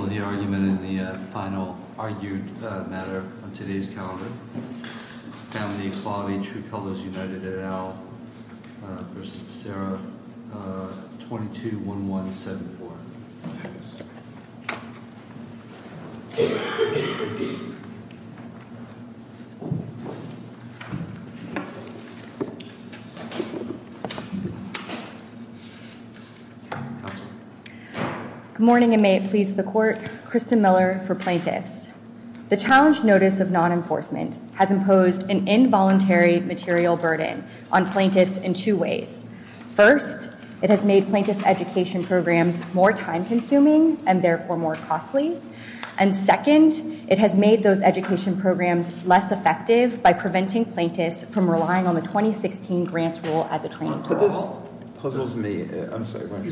and the final argued matter on today's calendar. Family Equality, True Colors United et al. v. Sarah, 22-1174. Good morning and may it please the court. Kristen Miller for plaintiffs. The challenge notice of non-enforcement has imposed an involuntary material burden on plaintiffs in two ways. First, it has made plaintiffs' education programs more time consuming and therefore more costly. And second, it has made those education programs less effective by preventing plaintiffs from relying on the 2016 grants rule as a training tool. This puzzles me. I'm sorry, why don't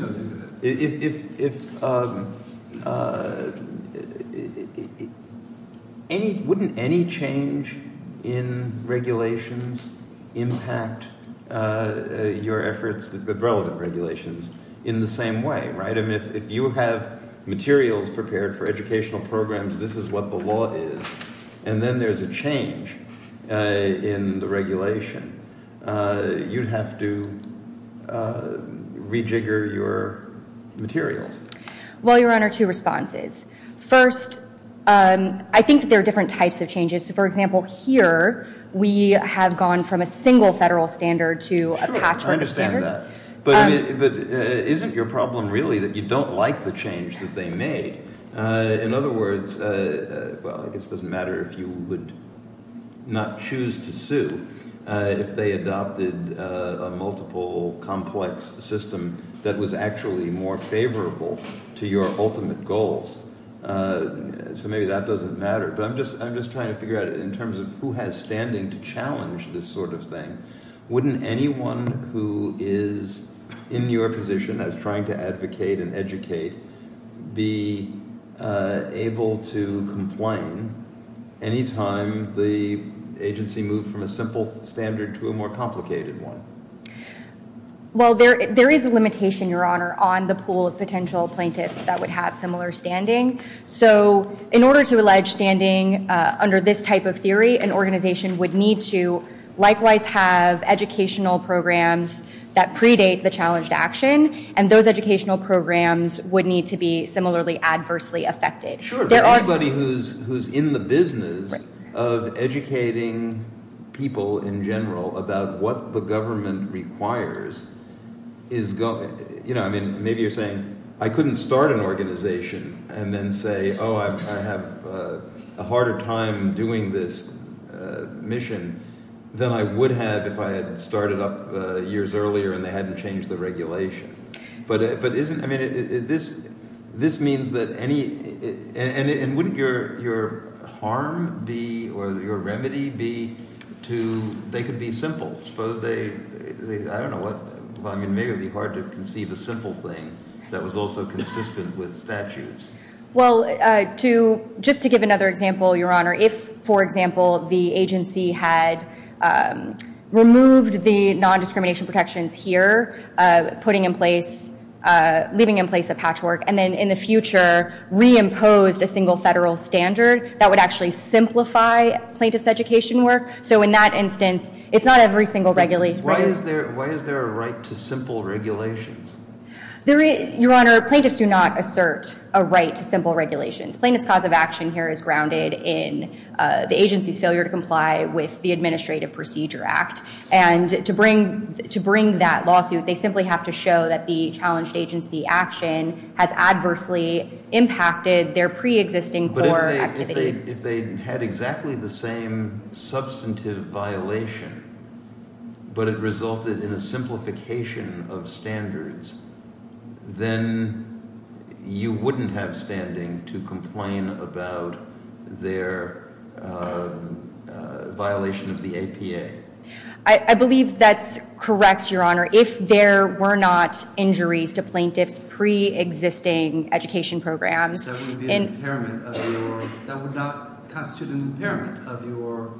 you go ahead. If any – wouldn't any change in regulations impact your efforts with relevant regulations in the same way, right? I mean, if you have materials prepared for educational programs, this is what the law is, and then there's a change in the regulation. You'd have to rejigger your materials. Well, Your Honor, two responses. First, I think there are different types of changes. For example, here we have gone from a single federal standard to a patchwork of standards. But isn't your problem really that you don't like the change that they made? In other words – well, I guess it doesn't matter if you would not choose to sue if they adopted a multiple complex system that was actually more favorable to your ultimate goals. So maybe that doesn't matter. But I'm just trying to figure out in terms of who has standing to challenge this sort of thing. Wouldn't anyone who is in your position as trying to advocate and educate be able to complain any time the agency moved from a simple standard to a more complicated one? Well, there is a limitation, Your Honor, on the pool of potential plaintiffs that would have similar standing. So in order to allege standing under this type of theory, an organization would need to likewise have educational programs that predate the challenge to action, and those educational programs would need to be similarly adversely affected. Sure, but anybody who's in the business of educating people in general about what the government requires is – I mean maybe you're saying I couldn't start an organization and then say, oh, I have a harder time doing this mission than I would have if I had started up years earlier and they hadn't changed the regulation. But isn't – I mean this means that any – and wouldn't your harm be or your remedy be to – they could be simple. Suppose they – I don't know what – I mean maybe it would be hard to conceive a simple thing that was also consistent with statutes. Well, to – just to give another example, Your Honor, if, for example, the agency had removed the nondiscrimination protections here, putting in place – leaving in place a patchwork and then in the future reimposed a single federal standard, that would actually simplify plaintiff's education work. So in that instance, it's not every single regulation. Why is there a right to simple regulations? Your Honor, plaintiffs do not assert a right to simple regulations. Plaintiff's cause of action here is grounded in the agency's failure to comply with the Administrative Procedure Act. And to bring that lawsuit, they simply have to show that the challenged agency action has adversely impacted their preexisting core activities. If they had exactly the same substantive violation but it resulted in a simplification of standards, then you wouldn't have standing to complain about their violation of the APA. I believe that's correct, Your Honor. If there were not injuries to plaintiffs' preexisting education programs – That would be an impairment of your – that would not constitute an impairment of your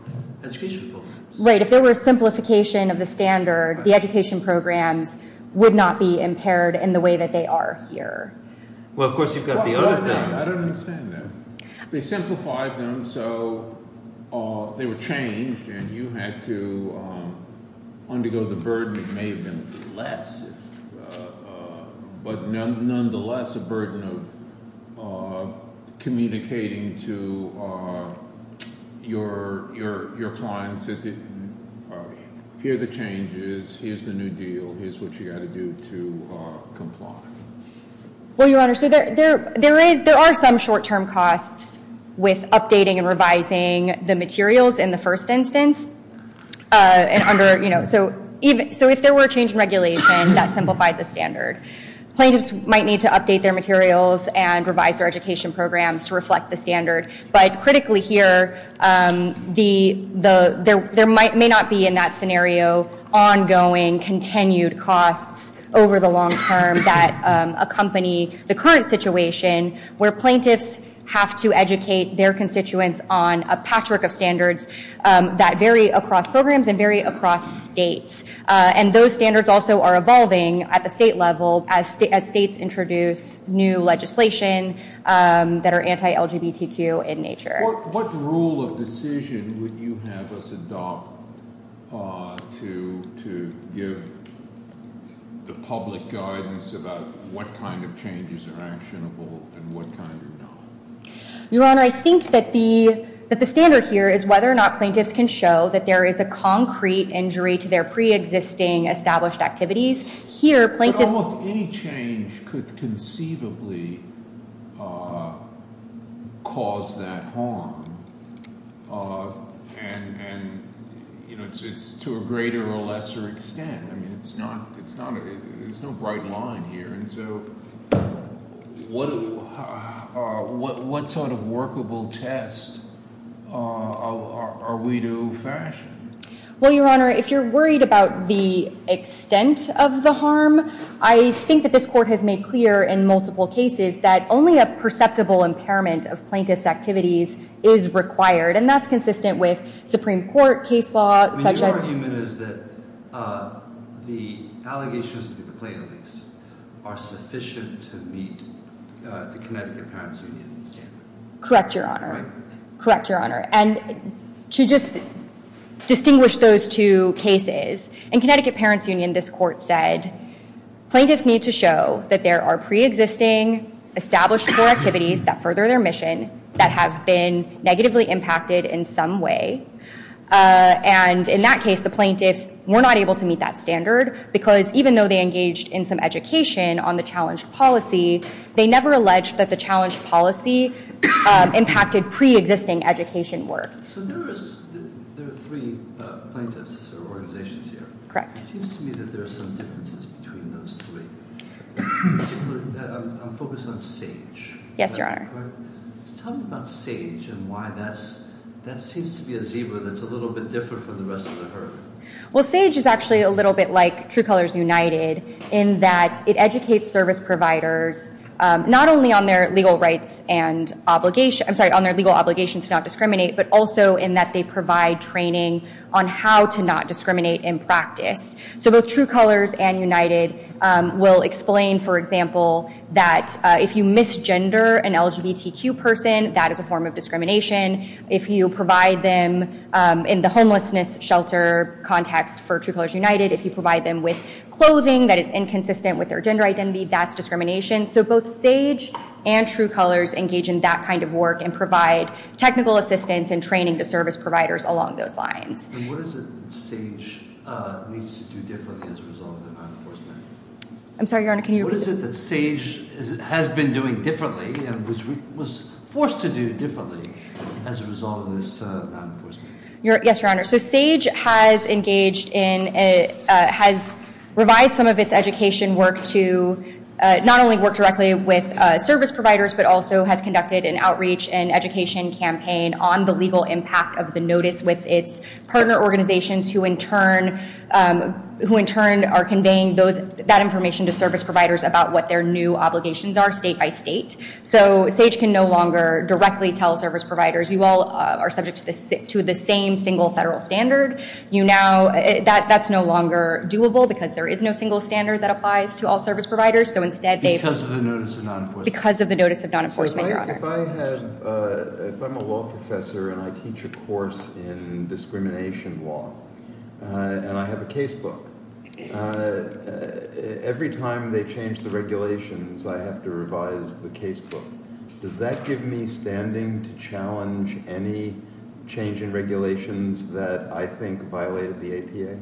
education programs. Right. If there were a simplification of the standard, the education programs would not be impaired in the way that they are here. Well, of course, you've got the other thing. I don't understand that. They simplified them so they were changed and you had to undergo the burden. It may have been less, but nonetheless a burden of communicating to your clients that here are the changes, here's the new deal, here's what you've got to do to comply. Well, Your Honor, so there are some short-term costs with updating and revising the materials in the first instance. So if there were a change in regulation that simplified the standard, plaintiffs might need to update their materials and revise their education programs to reflect the standard. But critically here, there may not be in that scenario ongoing, continued costs over the long term that accompany the current situation where plaintiffs have to educate their constituents on a patchwork of standards that vary across programs and vary across states. And those standards also are evolving at the state level as states introduce new legislation that are anti-LGBTQ in nature. What rule of decision would you have us adopt to give the public guidance about what kind of changes are actionable and what kind are not? Your Honor, I think that the standard here is whether or not plaintiffs can show that there is a concrete injury to their pre-existing established activities. Here, plaintiffs- But almost any change could conceivably cause that harm, and it's to a greater or lesser extent. There's no bright line here. And so what sort of workable test are we to fashion? Well, Your Honor, if you're worried about the extent of the harm, I think that this court has made clear in multiple cases that only a perceptible impairment of plaintiffs' activities is required. And that's consistent with Supreme Court case law, such as- What I'm arguing is that the allegations of the plaintiffs are sufficient to meet the Connecticut Parents Union standard. Correct, Your Honor. Correct, Your Honor. And to just distinguish those two cases, in Connecticut Parents Union, this court said plaintiffs need to show that there are pre-existing established activities that further their mission that have been negatively impacted in some way. And in that case, the plaintiffs were not able to meet that standard, because even though they engaged in some education on the challenged policy, they never alleged that the challenged policy impacted pre-existing education work. So there are three plaintiffs or organizations here. Correct. It seems to me that there are some differences between those three. In particular, I'm focused on SAGE. Yes, Your Honor. Tell me about SAGE and why that seems to be a zebra that's a little bit different from the rest of the herd. Well, SAGE is actually a little bit like True Colors United in that it educates service providers not only on their legal obligations to not discriminate, but also in that they provide training on how to not discriminate in practice. So both True Colors and United will explain, for example, that if you misgender an LGBTQ person, that is a form of discrimination. If you provide them in the homelessness shelter context for True Colors United, if you provide them with clothing that is inconsistent with their gender identity, that's discrimination. So both SAGE and True Colors engage in that kind of work and provide technical assistance and training to service providers along those lines. And what is it that SAGE needs to do differently as a result of the non-enforcement? I'm sorry, Your Honor. Can you repeat that? What is it that SAGE has been doing differently and was forced to do differently as a result of this non-enforcement? Yes, Your Honor. So SAGE has revised some of its education work to not only work directly with service providers, but also has conducted an outreach and education campaign on the legal impact of the notice with its partner organizations who in turn are conveying that information to service providers about what their new obligations are state by state. So SAGE can no longer directly tell service providers. You all are subject to the same single federal standard. That's no longer doable because there is no single standard that applies to all service providers. So instead they've- Because of the notice of non-enforcement. Because of the notice of non-enforcement, Your Honor. If I'm a law professor and I teach a course in discrimination law and I have a casebook, every time they change the regulations, I have to revise the casebook. Does that give me standing to challenge any change in regulations that I think violated the APA?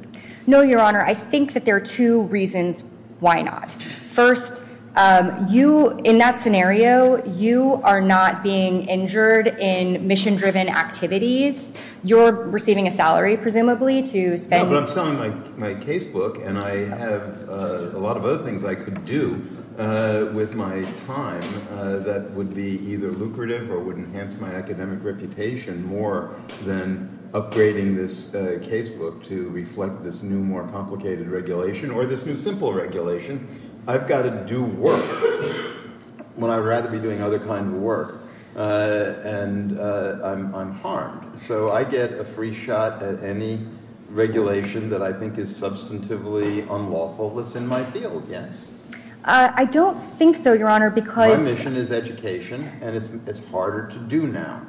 No, Your Honor. I think that there are two reasons why not. First, in that scenario, you are not being injured in mission-driven activities. You're receiving a salary, presumably, to spend- Yeah, but I'm selling my casebook and I have a lot of other things I could do with my time that would be either lucrative or would enhance my academic reputation more than upgrading this casebook to reflect this new, more complicated regulation or this new simple regulation. I've got to do work when I'd rather be doing other kind of work. And I'm harmed. So I get a free shot at any regulation that I think is substantively unlawful that's in my field, yes? I don't think so, Your Honor, because- My mission is education and it's harder to do now.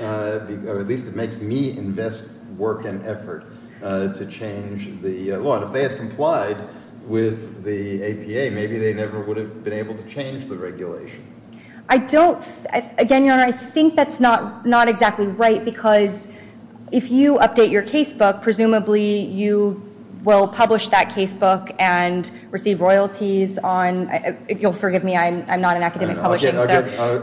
At least it makes me invest work and effort to change the law. And if they had complied with the APA, maybe they never would have been able to change the regulation. I don't- Again, Your Honor, I think that's not exactly right because if you update your casebook, presumably you will publish that casebook and receive royalties on- You'll forgive me, I'm not in academic publishing, so-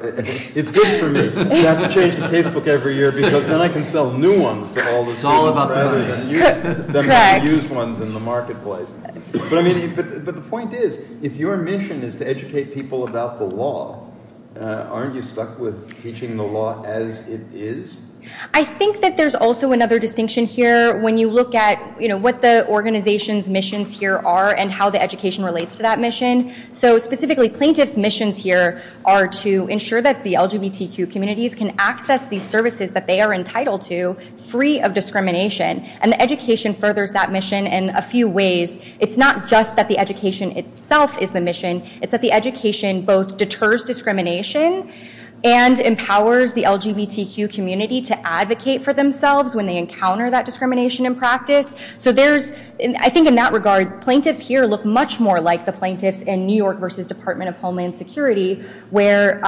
It's good for me. I have to change the casebook every year because then I can sell new ones to all the students rather than the used ones in the marketplace. But the point is, if your mission is to educate people about the law, aren't you stuck with teaching the law as it is? I think that there's also another distinction here when you look at what the organization's missions here are and how the education relates to that mission. So specifically, plaintiff's missions here are to ensure that the LGBTQ communities can access these services that they are entitled to free of discrimination. And the education furthers that mission in a few ways. It's not just that the education itself is the mission. It's that the education both deters discrimination and empowers the LGBTQ community to advocate for themselves when they encounter that discrimination in practice. I think in that regard, plaintiffs here look much more like the plaintiffs in New York v. Department of Homeland Security where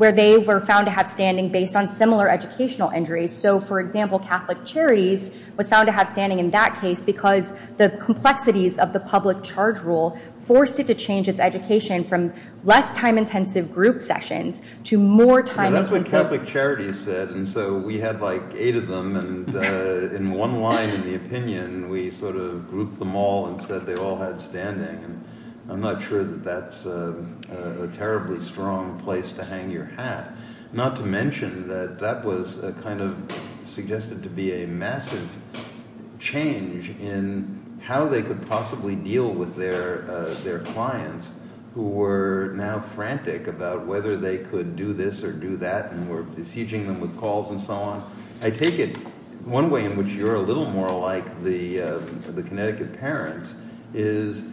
they were found to have standing based on similar educational injuries. So, for example, Catholic Charities was found to have standing in that case because the complexities of the public charge rule forced it to change its education from less time-intensive group sessions to more time-intensive- Yeah, that's what Catholic Charities said, and so we had like eight of them, and in one line in the opinion, we sort of grouped them all and said they all had standing. I'm not sure that that's a terribly strong place to hang your hat. Not to mention that that was kind of suggested to be a massive change in how they could possibly deal with their clients who were now frantic about whether they could do this or do that and were besieging them with calls and so on. One way in which you're a little more like the Connecticut parents is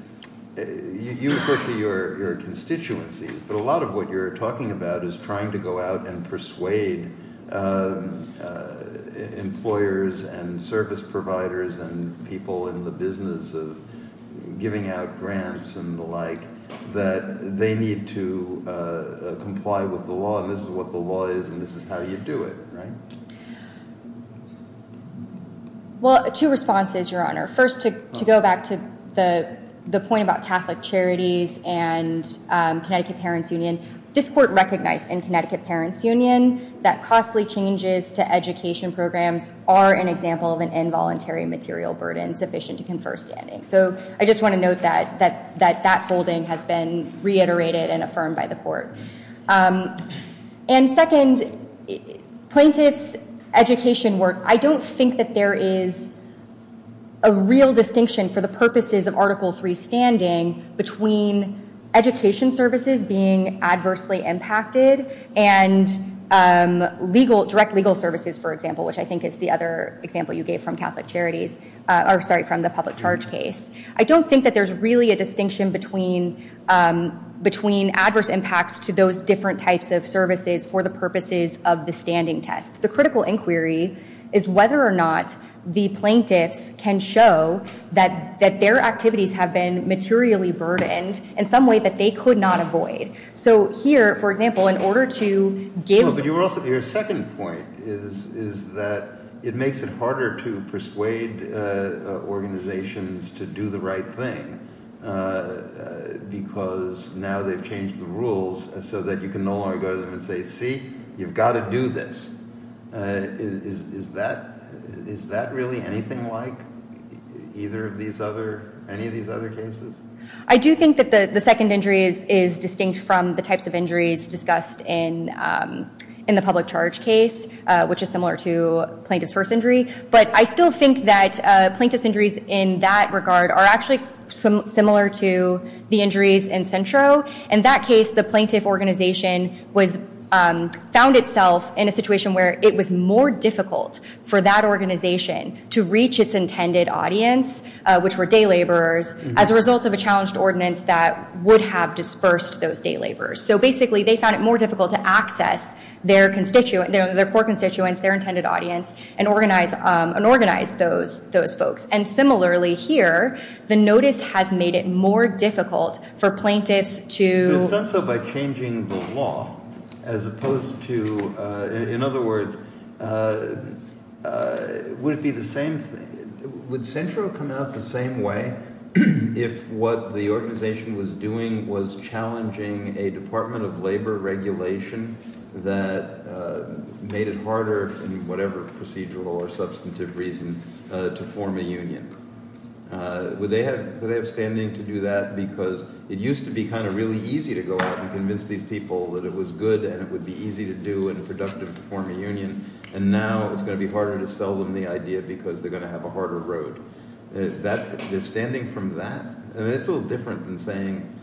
you refer to your constituencies, but a lot of what you're talking about is trying to go out and persuade employers and service providers and people in the business of giving out grants and the like that they need to comply with the law and this is what the law is and this is how you do it. Well, two responses, Your Honor. First, to go back to the point about Catholic Charities and Connecticut Parents Union, this court recognized in Connecticut Parents Union that costly changes to education programs are an example of an involuntary material burden sufficient to confer standing. So I just want to note that that holding has been reiterated and affirmed by the court. And second, plaintiffs' education work, I don't think that there is a real distinction for the purposes of Article III standing between education services being adversely impacted and direct legal services, for example, which I think is the other example you gave from Catholic Charities, or sorry, from the public charge case. I don't think that there's really a distinction between adverse impacts to those different types of services for the purposes of the standing test. The critical inquiry is whether or not the plaintiffs can show that their activities have been materially burdened in some way that they could not avoid. So here, for example, in order to give... But your second point is that it makes it harder to persuade organizations to do the right thing because now they've changed the rules so that you can no longer go to them and say, see, you've got to do this. Is that really anything like any of these other cases? I do think that the second injury is distinct from the types of injuries discussed in the public charge case, which is similar to plaintiff's first injury. But I still think that plaintiff's injuries in that regard are actually similar to the injuries in Centro. In that case, the plaintiff organization found itself in a situation where it was more difficult for that organization to reach its intended audience, which were day laborers, as a result of a challenged ordinance that would have dispersed those day laborers. So basically, they found it more difficult to access their core constituents, their intended audience, and organize those folks. And similarly here, the notice has made it more difficult for plaintiffs to... But it's done so by changing the law, as opposed to... Would it be the same thing? Would Centro come out the same way if what the organization was doing was challenging a Department of Labor regulation that made it harder in whatever procedural or substantive reason to form a union? Would they have standing to do that? Because it used to be kind of really easy to go out and convince these people that it was good and it would be easy to do and productive to form a union. And now it's going to be harder to sell them the idea because they're going to have a harder road. Their standing from that? I mean, it's a little different than saying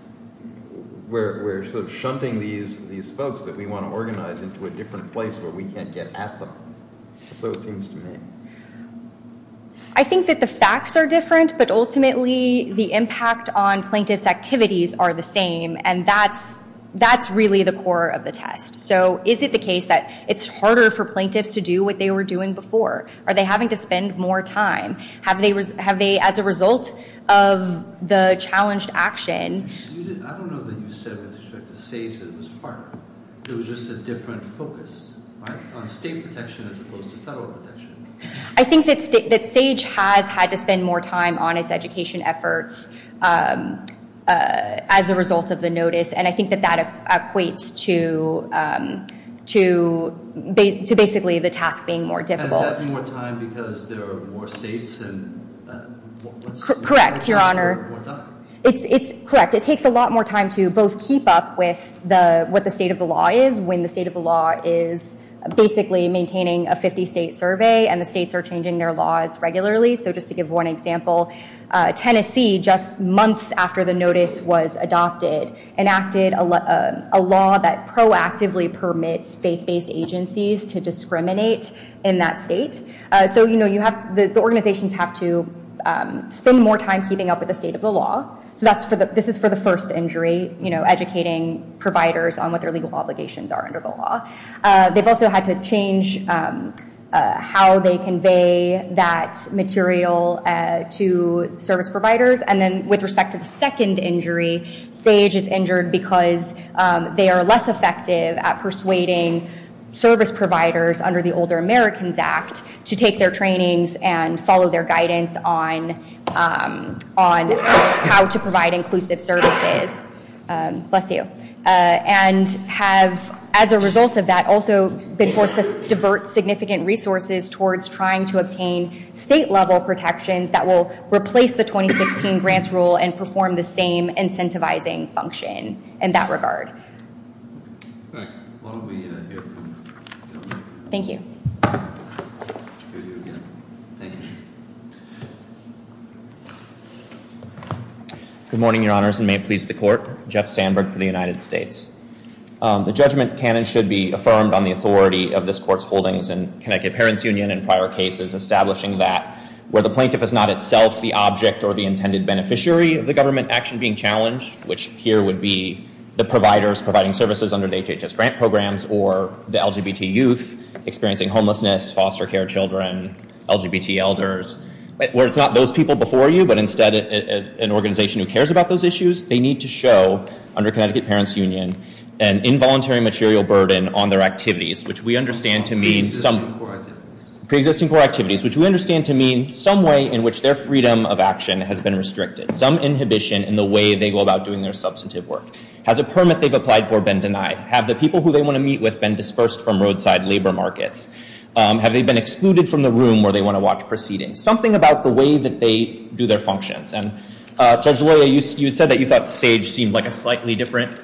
we're sort of shunting these folks that we want to organize into a different place where we can't get at them. So it seems to me. I think that the facts are different, but ultimately the impact on plaintiffs' activities are the same. And that's really the core of the test. So is it the case that it's harder for plaintiffs to do what they were doing before? Are they having to spend more time? Have they, as a result of the challenged action... I don't know that you said with respect to SAFE that it was harder. It was just a different focus on state protection as opposed to federal protection. I think that SAGE has had to spend more time on its education efforts as a result of the notice. And I think that that equates to basically the task being more difficult. Is that more time because there are more states? Correct, Your Honor. More time. More time to both keep up with what the state of the law is when the state of the law is basically maintaining a 50-state survey and the states are changing their laws regularly. So just to give one example, Tennessee, just months after the notice was adopted, enacted a law that proactively permits faith-based agencies to discriminate in that state. So the organizations have to spend more time keeping up with the state of the law. So this is for the first injury, educating providers on what their legal obligations are under the law. They've also had to change how they convey that material to service providers. And then with respect to the second injury, SAGE is injured because they are less effective at persuading service providers under the Older Americans Act to take their trainings and follow their guidance on how to provide inclusive services. Bless you. And have, as a result of that, also been forced to divert significant resources towards trying to obtain state-level protections that will replace the 2016 grants rule and perform the same incentivizing function in that regard. All right. Why don't we hear from Governor? Thank you. Thank you again. Thank you. Good morning, your honors, and may it please the court. Jeff Sandberg for the United States. The judgment can and should be affirmed on the authority of this court's holdings in Connecticut Parents Union and prior cases establishing that where the plaintiff is not itself the object or the intended beneficiary of the government action being challenged, which here would be the providers providing services under the HHS grant programs or the LGBT youth experiencing homelessness, foster care children, LGBT elders, where it's not those people before you, but instead an organization who cares about those issues, they need to show under Connecticut Parents Union an involuntary material burden on their activities, which we understand to mean some pre-existing core activities, which we understand to mean some way in which their freedom of action has been restricted, some inhibition in the way they go about doing their substantive work. Has a permit they've applied for been denied? Have the people who they want to meet with been dispersed from roadside labor markets? Have they been excluded from the room where they want to watch proceedings? Something about the way that they do their functions. And Judge Loya, you said that you thought SAGE seemed like a slightly different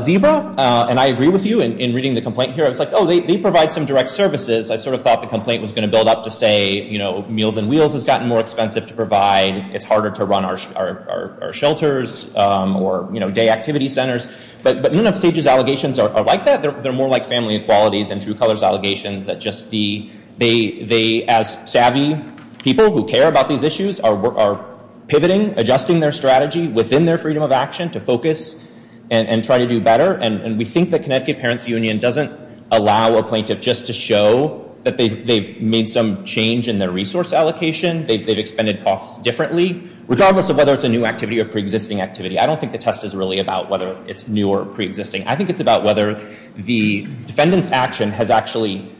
zebra. And I agree with you in reading the complaint here. I was like, oh, they provide some direct services. I sort of thought the complaint was going to build up to say, you know, Meals on Wheels has gotten more expensive to provide. It's harder to run our shelters or, you know, day activity centers. But none of SAGE's allegations are like that. They're more like family equalities and True Colors allegations that just the—they, as savvy people who care about these issues, are pivoting, adjusting their strategy within their freedom of action to focus and try to do better. And we think that Connecticut Parents Union doesn't allow a plaintiff just to show that they've made some change in their resource allocation. They've expended costs differently, regardless of whether it's a new activity or preexisting activity. I don't think the test is really about whether it's new or preexisting. I think it's about whether the defendant's action has actually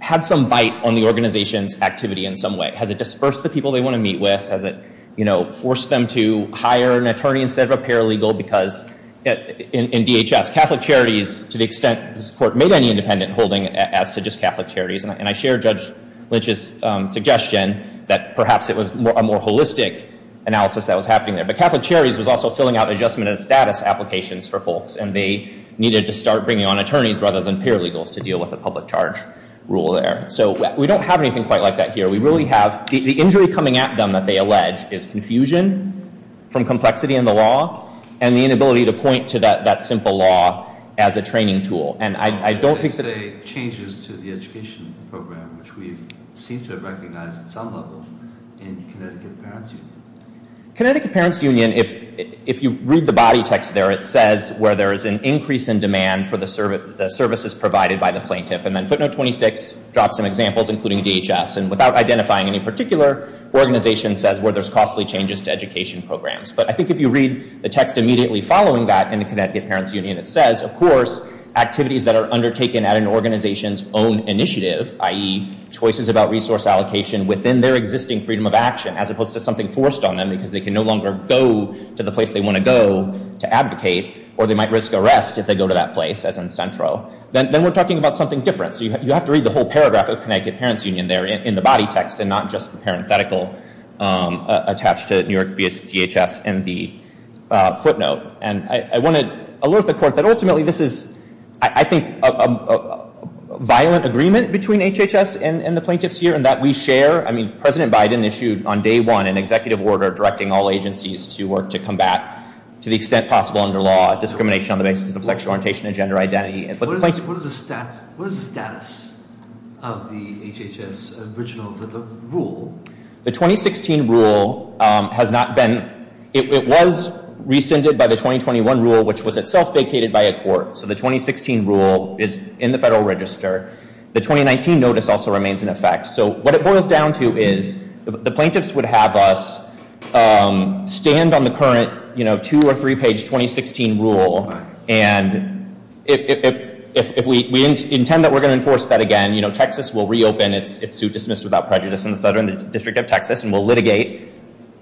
had some bite on the organization's activity in some way. Has it dispersed the people they want to meet with? Has it, you know, forced them to hire an attorney instead of a paralegal? Because in DHS, Catholic Charities, to the extent this court made any independent holding as to just Catholic Charities— and I share Judge Lynch's suggestion that perhaps it was a more holistic analysis that was happening there— but Catholic Charities was also filling out adjustment of status applications for folks. And they needed to start bringing on attorneys rather than paralegals to deal with the public charge rule there. So we don't have anything quite like that here. We really have—the injury coming at them that they allege is confusion from complexity in the law and the inability to point to that simple law as a training tool. And I don't think that— You didn't say changes to the education program, which we seem to have recognized at some level in Connecticut Parents Union. Connecticut Parents Union, if you read the body text there, it says where there is an increase in demand for the services provided by the plaintiff. And then footnote 26 drops some examples, including DHS. And without identifying any particular organization, it says where there's costly changes to education programs. But I think if you read the text immediately following that in the Connecticut Parents Union, it says, of course, activities that are undertaken at an organization's own initiative— i.e., choices about resource allocation within their existing freedom of action, as opposed to something forced on them because they can no longer go to the place they want to go to advocate, or they might risk arrest if they go to that place, as in Centro. Then we're talking about something different. So you have to read the whole paragraph of Connecticut Parents Union there in the body text and not just the parenthetical attached to New York v. DHS in the footnote. And I want to alert the Court that ultimately this is, I think, a violent agreement between HHS and the plaintiffs here, and that we share—I mean, President Biden issued on day one an executive order directing all agencies to work to combat, to the extent possible under law, discrimination on the basis of sexual orientation and gender identity. What is the status of the HHS original rule? The 2016 rule has not been—it was rescinded by the 2021 rule, which was itself vacated by a court. So the 2016 rule is in the Federal Register. The 2019 notice also remains in effect. So what it boils down to is the plaintiffs would have us stand on the current two- or three-page 2016 rule, and if we intend that we're going to enforce that again, you know, Texas will reopen its suit dismissed without prejudice in the Southern District of Texas and will litigate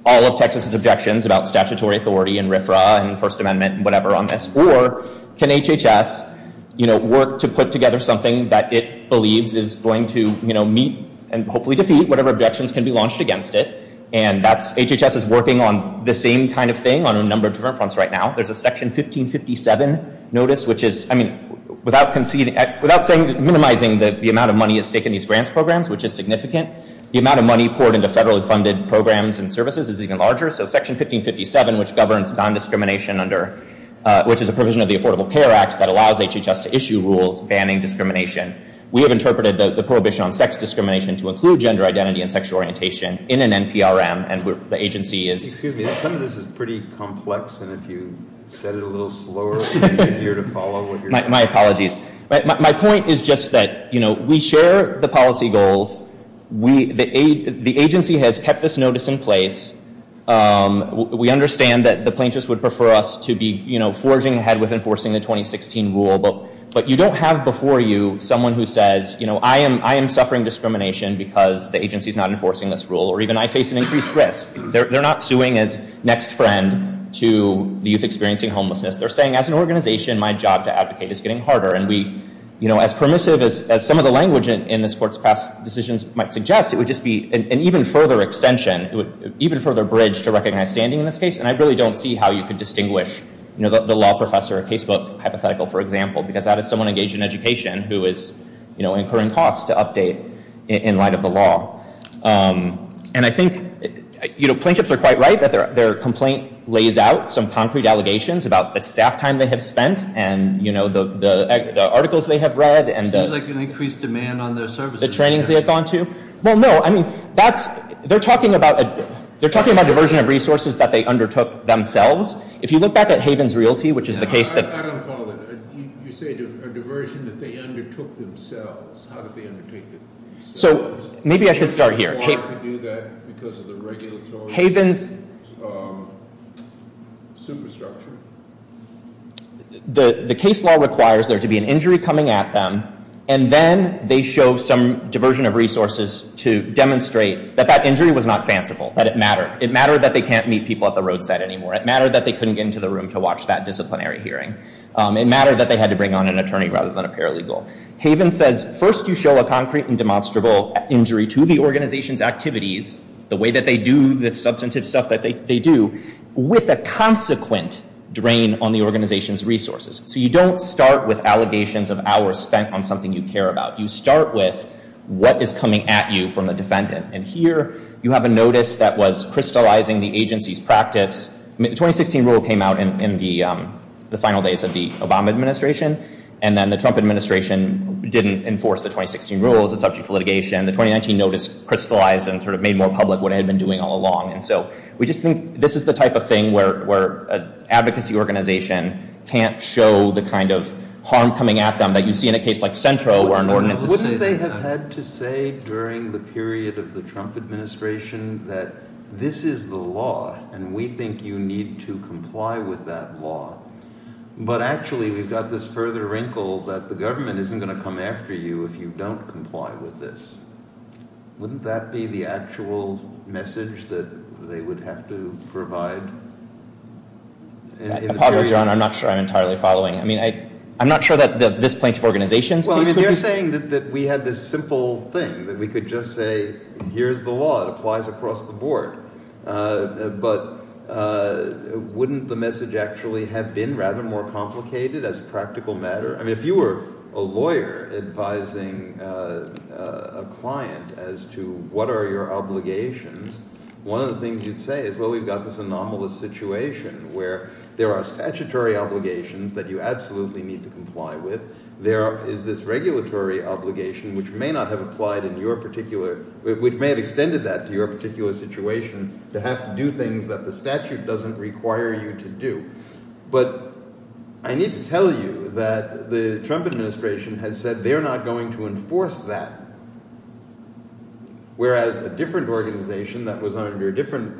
all of Texas' objections about statutory authority and RFRA and First Amendment and whatever on this. Or can HHS, you know, work to put together something that it believes is going to, you know, meet and hopefully defeat whatever objections can be launched against it? And that's—HHS is working on the same kind of thing on a number of different fronts right now. There's a Section 1557 notice, which is—I mean, without conceding—without minimizing the amount of money at stake in these grants programs, which is significant, the amount of money poured into federally funded programs and services is even larger. So Section 1557, which governs non-discrimination under—which is a provision of the Affordable Care Act that allows HHS to issue rules banning discrimination. We have interpreted the prohibition on sex discrimination to include gender identity and sexual orientation in an NPRM, and the agency is— You said it a little slower and easier to follow what you're saying. My apologies. My point is just that, you know, we share the policy goals. The agency has kept this notice in place. We understand that the plaintiffs would prefer us to be, you know, forging ahead with enforcing the 2016 rule, but you don't have before you someone who says, you know, I am suffering discrimination because the agency is not enforcing this rule, or even I face an increased risk. They're not suing as next friend to the youth experiencing homelessness. They're saying, as an organization, my job to advocate is getting harder. And we, you know, as permissive as some of the language in this court's past decisions might suggest, it would just be an even further extension, even further bridge to recognize standing in this case. And I really don't see how you could distinguish, you know, the law professor or casebook hypothetical, for example, because that is someone engaged in education who is, you know, incurring costs to update in light of the law. And I think, you know, plaintiffs are quite right that their complaint lays out some concrete allegations about the staff time they have spent and, you know, the articles they have read. It seems like an increased demand on their services. The trainings they have gone to. Well, no. I mean, that's, they're talking about, they're talking about diversion of resources that they undertook themselves. If you look back at Haven's Realty, which is the case that. I don't follow that. You say a diversion that they undertook themselves. How did they undertake themselves? So, maybe I should start here. The law could do that because of the regulatory superstructure. The case law requires there to be an injury coming at them, and then they show some diversion of resources to demonstrate that that injury was not fanciful. That it mattered. It mattered that they can't meet people at the roadside anymore. It mattered that they couldn't get into the room to watch that disciplinary hearing. It mattered that they had to bring on an attorney rather than a paralegal. Haven says, first you show a concrete and demonstrable injury to the organization's activities, the way that they do, the substantive stuff that they do, with a consequent drain on the organization's resources. So, you don't start with allegations of hours spent on something you care about. You start with what is coming at you from a defendant. And here, you have a notice that was crystallizing the agency's practice. The 2016 rule came out in the final days of the Obama administration. And then the Trump administration didn't enforce the 2016 rules. It's subject to litigation. The 2019 notice crystallized and sort of made more public what it had been doing all along. And so, we just think this is the type of thing where an advocacy organization can't show the kind of harm coming at them that you see in a case like Centro or an ordinance. Wouldn't they have had to say during the period of the Trump administration that this is the law, and we think you need to comply with that law. But actually, we've got this further wrinkle that the government isn't going to come after you if you don't comply with this. Wouldn't that be the actual message that they would have to provide? I apologize, Your Honor. I'm not sure I'm entirely following. I mean, I'm not sure that this plan of organization's case would be- Well, you're saying that we had this simple thing, that we could just say, here's the law. It applies across the board. But wouldn't the message actually have been rather more complicated as a practical matter? I mean, if you were a lawyer advising a client as to what are your obligations, one of the things you'd say is, well, we've got this anomalous situation where there are statutory obligations that you absolutely need to comply with. There is this regulatory obligation which may not have applied in your particular- to have to do things that the statute doesn't require you to do. But I need to tell you that the Trump administration has said they're not going to enforce that. Whereas a different organization that was under a different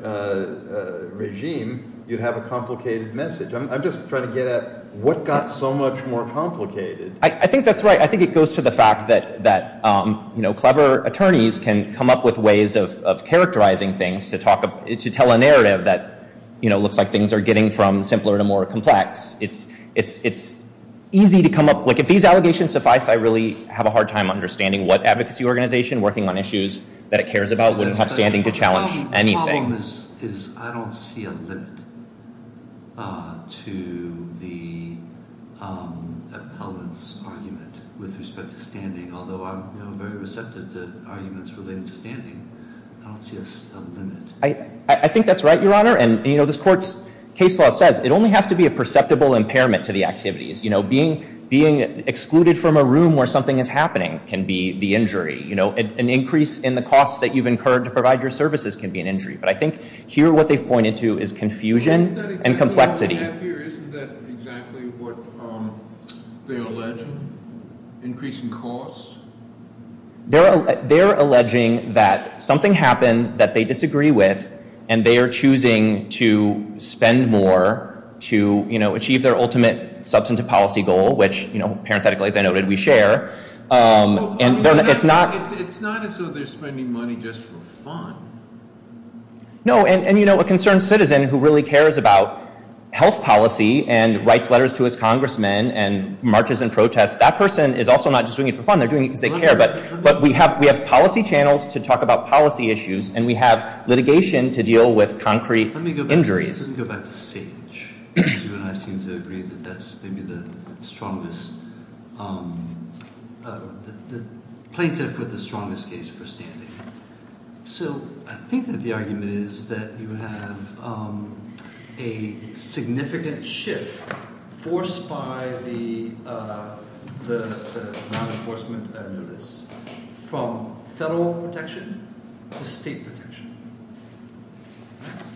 regime, you'd have a complicated message. I'm just trying to get at what got so much more complicated. I think that's right. I think it goes to the fact that clever attorneys can come up with ways of characterizing things to tell a narrative that looks like things are getting from simpler to more complex. It's easy to come up- like if these allegations suffice, I really have a hard time understanding what advocacy organization working on issues that it cares about wouldn't have standing to challenge anything. The problem is I don't see a limit to the appellant's argument with respect to standing, although I'm very receptive to arguments relating to standing. I don't see a limit. I think that's right, Your Honor. And this court's case law says it only has to be a perceptible impairment to the activities. Being excluded from a room where something is happening can be the injury. An increase in the costs that you've incurred to provide your services can be an injury. But I think here what they've pointed to is confusion and complexity. Isn't that exactly what they're alleging? Increasing costs? They're alleging that something happened that they disagree with, and they are choosing to spend more to achieve their ultimate substantive policy goal, which parenthetically, as I noted, we share. It's not as though they're spending money just for fun. No, and a concerned citizen who really cares about health policy and writes letters to his congressman and marches in protest, that person is also not just doing it for fun. They're doing it because they care. But we have policy channels to talk about policy issues, and we have litigation to deal with concrete injuries. Let me go back to Sage, because you and I seem to agree that that's maybe the plaintiff with the strongest case for standing. So I think that the argument is that you have a significant shift forced by the law enforcement notice from federal protection to state protection.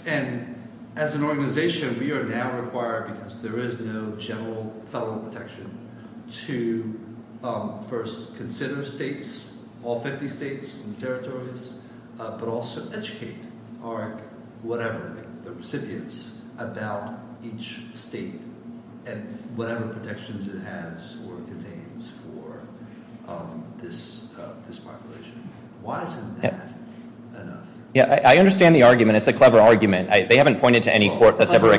And as an organization, we are now required, because there is no general federal protection, to first consider states, all 50 states and territories, but also educate whatever, the recipients, about each state and whatever protections it has or contains for this population. Why isn't that enough? Yeah, I understand the argument. It's a clever argument. They haven't pointed to any court that's ever...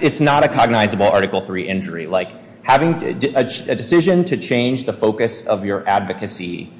It's not a cognizable Article III injury. A decision to change the focus of your advocacy,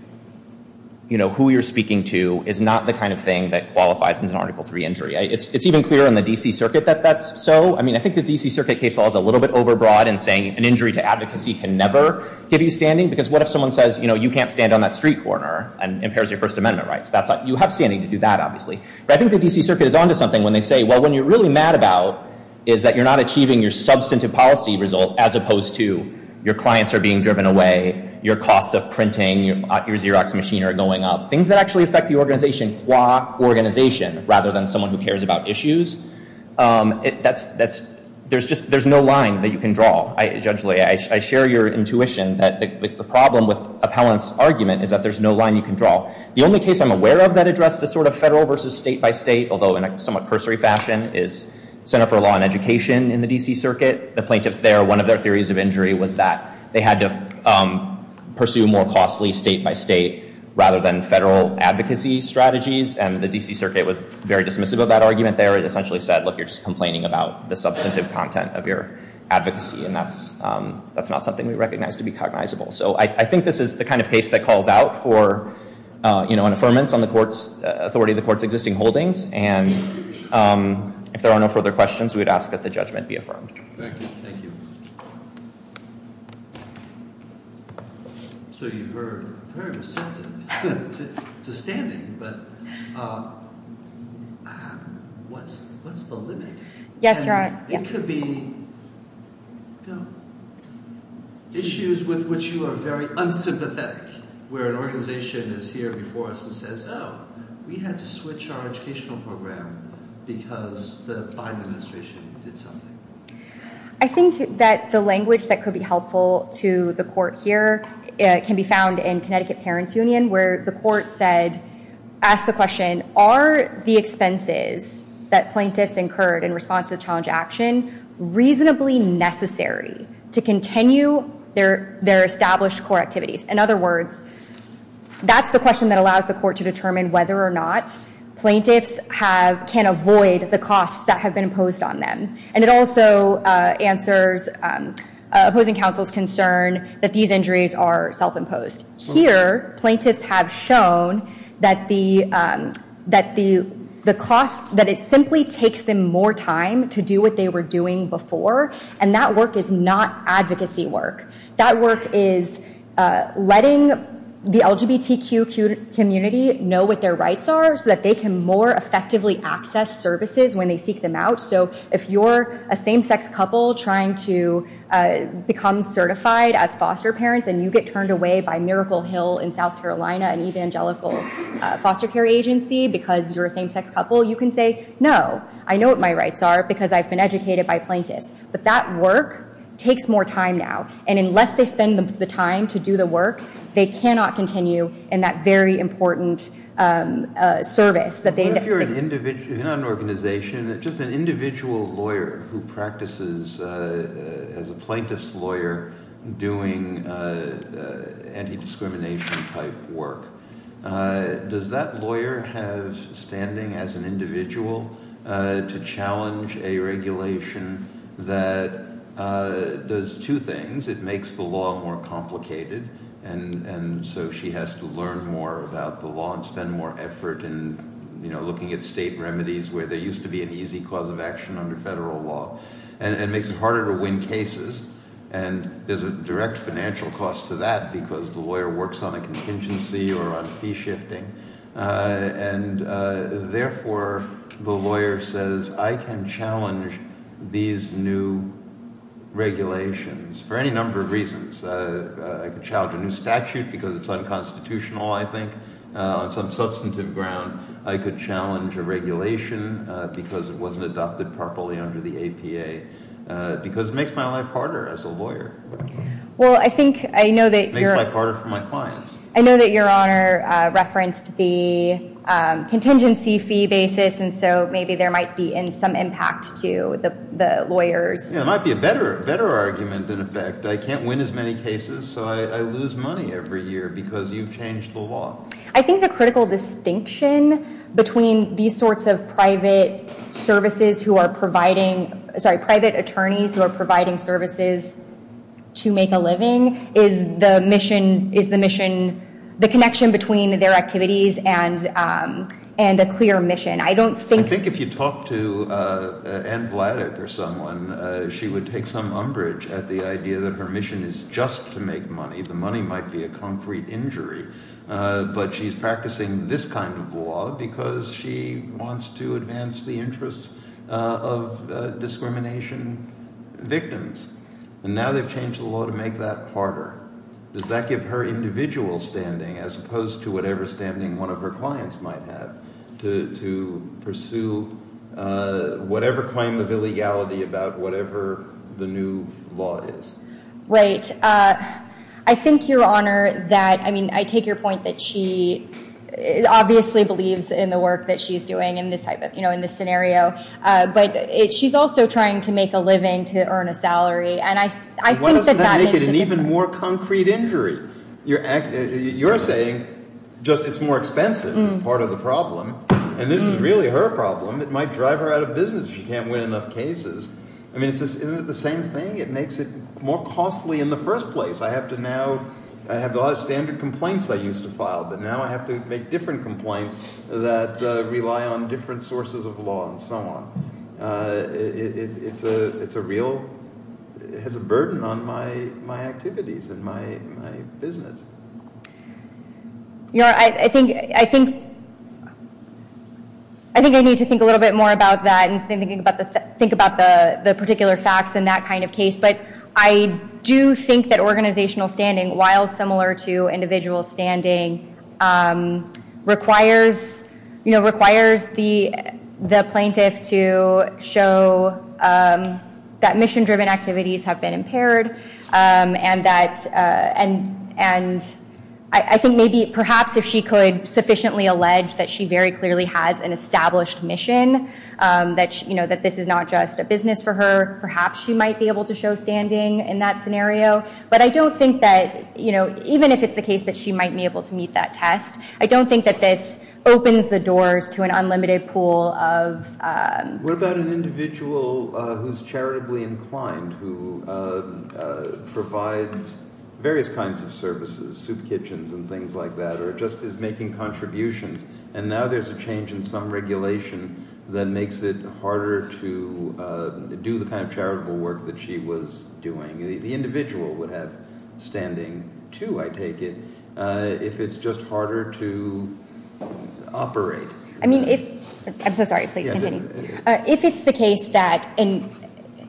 who you're speaking to, is not the kind of thing that qualifies as an Article III injury. It's even clearer in the D.C. Circuit that that's so. I think the D.C. Circuit case law is a little bit overbroad in saying an injury to advocacy can never give you standing. Because what if someone says, you can't stand on that street corner and impairs your First Amendment rights? You have standing to do that, obviously. But I think the D.C. Circuit is on to something when they say, well, what you're really mad about is that you're not achieving your substantive policy result, as opposed to your clients are being driven away, your costs of printing, your Xerox machine are going up. Things that actually affect the organization, qua organization, rather than someone who cares about issues, there's no line that you can draw. Judge Lee, I share your intuition that the problem with Appellant's argument is that there's no line you can draw. The only case I'm aware of that addressed this sort of federal versus state-by-state, although in a somewhat cursory fashion, is Center for Law and Education in the D.C. Circuit. The plaintiffs there, one of their theories of injury was that they had to pursue more costly state-by-state rather than federal advocacy strategies. And the D.C. Circuit was very dismissive of that argument there. It essentially said, look, you're just complaining about the substantive content of your advocacy. And that's not something we recognize to be cognizable. So I think this is the kind of case that calls out for, you know, an affirmance on the authority of the court's existing holdings. And if there are no further questions, we would ask that the judgment be affirmed. Thank you. So you were very receptive to standing, but what's the limit? Yes, Your Honor. It could be issues with which you are very unsympathetic, where an organization is here before us and says, oh, we had to switch our educational program because the Biden administration did something. I think that the language that could be helpful to the court here can be found in Connecticut Parents Union, where the court asked the question, are the expenses that plaintiffs incurred in response to the challenge to action reasonably necessary to continue their established core activities? In other words, that's the question that allows the court to determine whether or not plaintiffs can avoid the costs that have been imposed on them. And it also answers opposing counsel's concern that these injuries are self-imposed. Here, plaintiffs have shown that it simply takes them more time to do what they were doing before, and that work is not advocacy work. That work is letting the LGBTQ community know what their rights are so that they can more effectively access services when they seek them out. So if you're a same-sex couple trying to become certified as foster parents and you get turned away by Miracle Hill in South Carolina, an evangelical foster care agency, because you're a same-sex couple, you can say, no, I know what my rights are because I've been educated by plaintiffs. But that work takes more time now. And unless they spend the time to do the work, they cannot continue in that very important service. If you're in an organization, just an individual lawyer who practices as a plaintiff's lawyer doing anti-discrimination type work, does that lawyer have standing as an individual to challenge a regulation that does two things. It makes the law more complicated, and so she has to learn more about the law and spend more effort in looking at state remedies where there used to be an easy cause of action under federal law. And it makes it harder to win cases, and there's a direct financial cost to that because the lawyer works on a contingency or on fee shifting, and therefore the lawyer says, I can challenge these new regulations for any number of reasons. I could challenge a new statute because it's unconstitutional, I think, on some substantive ground. I could challenge a regulation because it wasn't adopted properly under the APA, because it makes my life harder as a lawyer. It makes my life harder for my clients. I know that Your Honor referenced the contingency fee basis, and so maybe there might be some impact to the lawyers. It might be a better argument, in effect. I can't win as many cases, so I lose money every year because you've changed the law. I think the critical distinction between these sorts of private attorneys who are providing services to make a living is the connection between their activities and a clear mission. I think if you talk to Ann Vladeck or someone, she would take some umbrage at the idea that her mission is just to make money. The money might be a concrete injury, but she's practicing this kind of law because she wants to advance the interests of discrimination victims. And now they've changed the law to make that harder. Does that give her individual standing, as opposed to whatever standing one of her clients might have, to pursue whatever claim of illegality about whatever the new law is? Right. I think, Your Honor, that I take your point that she obviously believes in the work that she's doing in this scenario, but she's also trying to make a living to earn a salary. Why doesn't that make it an even more concrete injury? You're saying just it's more expensive is part of the problem, and this is really her problem. It might drive her out of business if she can't win enough cases. Isn't it the same thing? It makes it more costly in the first place. I have a lot of standard complaints I used to file, but now I have to make different complaints that rely on different sources of law and so on. It has a burden on my activities and my business. Your Honor, I think I need to think a little bit more about that and think about the particular facts in that kind of case. I do think that organizational standing, while similar to individual standing, requires the plaintiff to show that mission-driven activities have been impaired. I think perhaps if she could sufficiently allege that she very clearly has an established mission, that this is not just a business for her, perhaps she might be able to show standing in that scenario. But I don't think that, even if it's the case that she might be able to meet that test, I don't think that this opens the doors to an unlimited pool of- What about an individual who's charitably inclined, who provides various kinds of services, soup kitchens and things like that, or just is making contributions, and now there's a change in some regulation that makes it harder to do the kind of charitable work that she was doing. The individual would have standing too, I take it, if it's just harder to operate. I'm so sorry, please continue.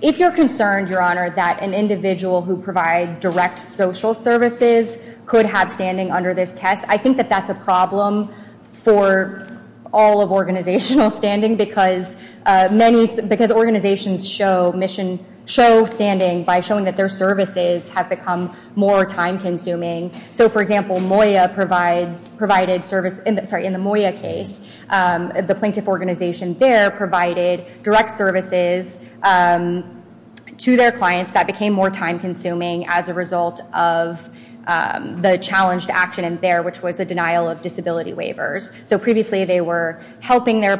If you're concerned, Your Honor, that an individual who provides direct social services could have standing under this test, I think that that's a problem for all of organizational standing because organizations show standing by showing that their services have become more time-consuming. For example, in the Moya case, the plaintiff organization there provided direct services to their clients that became more time-consuming as a result of the challenged action in there, which was the denial of disability waivers. Previously, they were helping their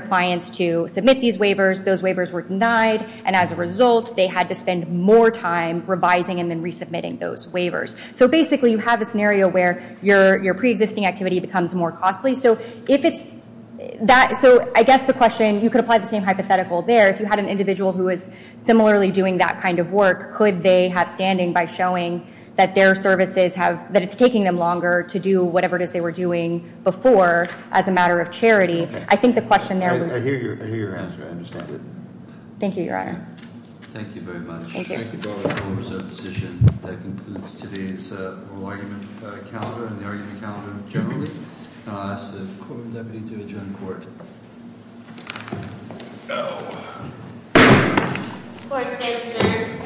clients to submit these waivers. Those waivers were denied, and as a result, they had to spend more time revising and then resubmitting those waivers. So basically, you have a scenario where your pre-existing activity becomes more costly. So I guess the question, you could apply the same hypothetical there. If you had an individual who was similarly doing that kind of work, could they have standing by showing that it's taking them longer to do whatever it is they were doing before as a matter of charity? I think the question there would— I hear your answer. I understand it. Thank you, Your Honor. Thank you very much. Thank you. That concludes today's oral argument calendar and the argument calendar generally. I'll ask the courtroom deputy to adjourn the court.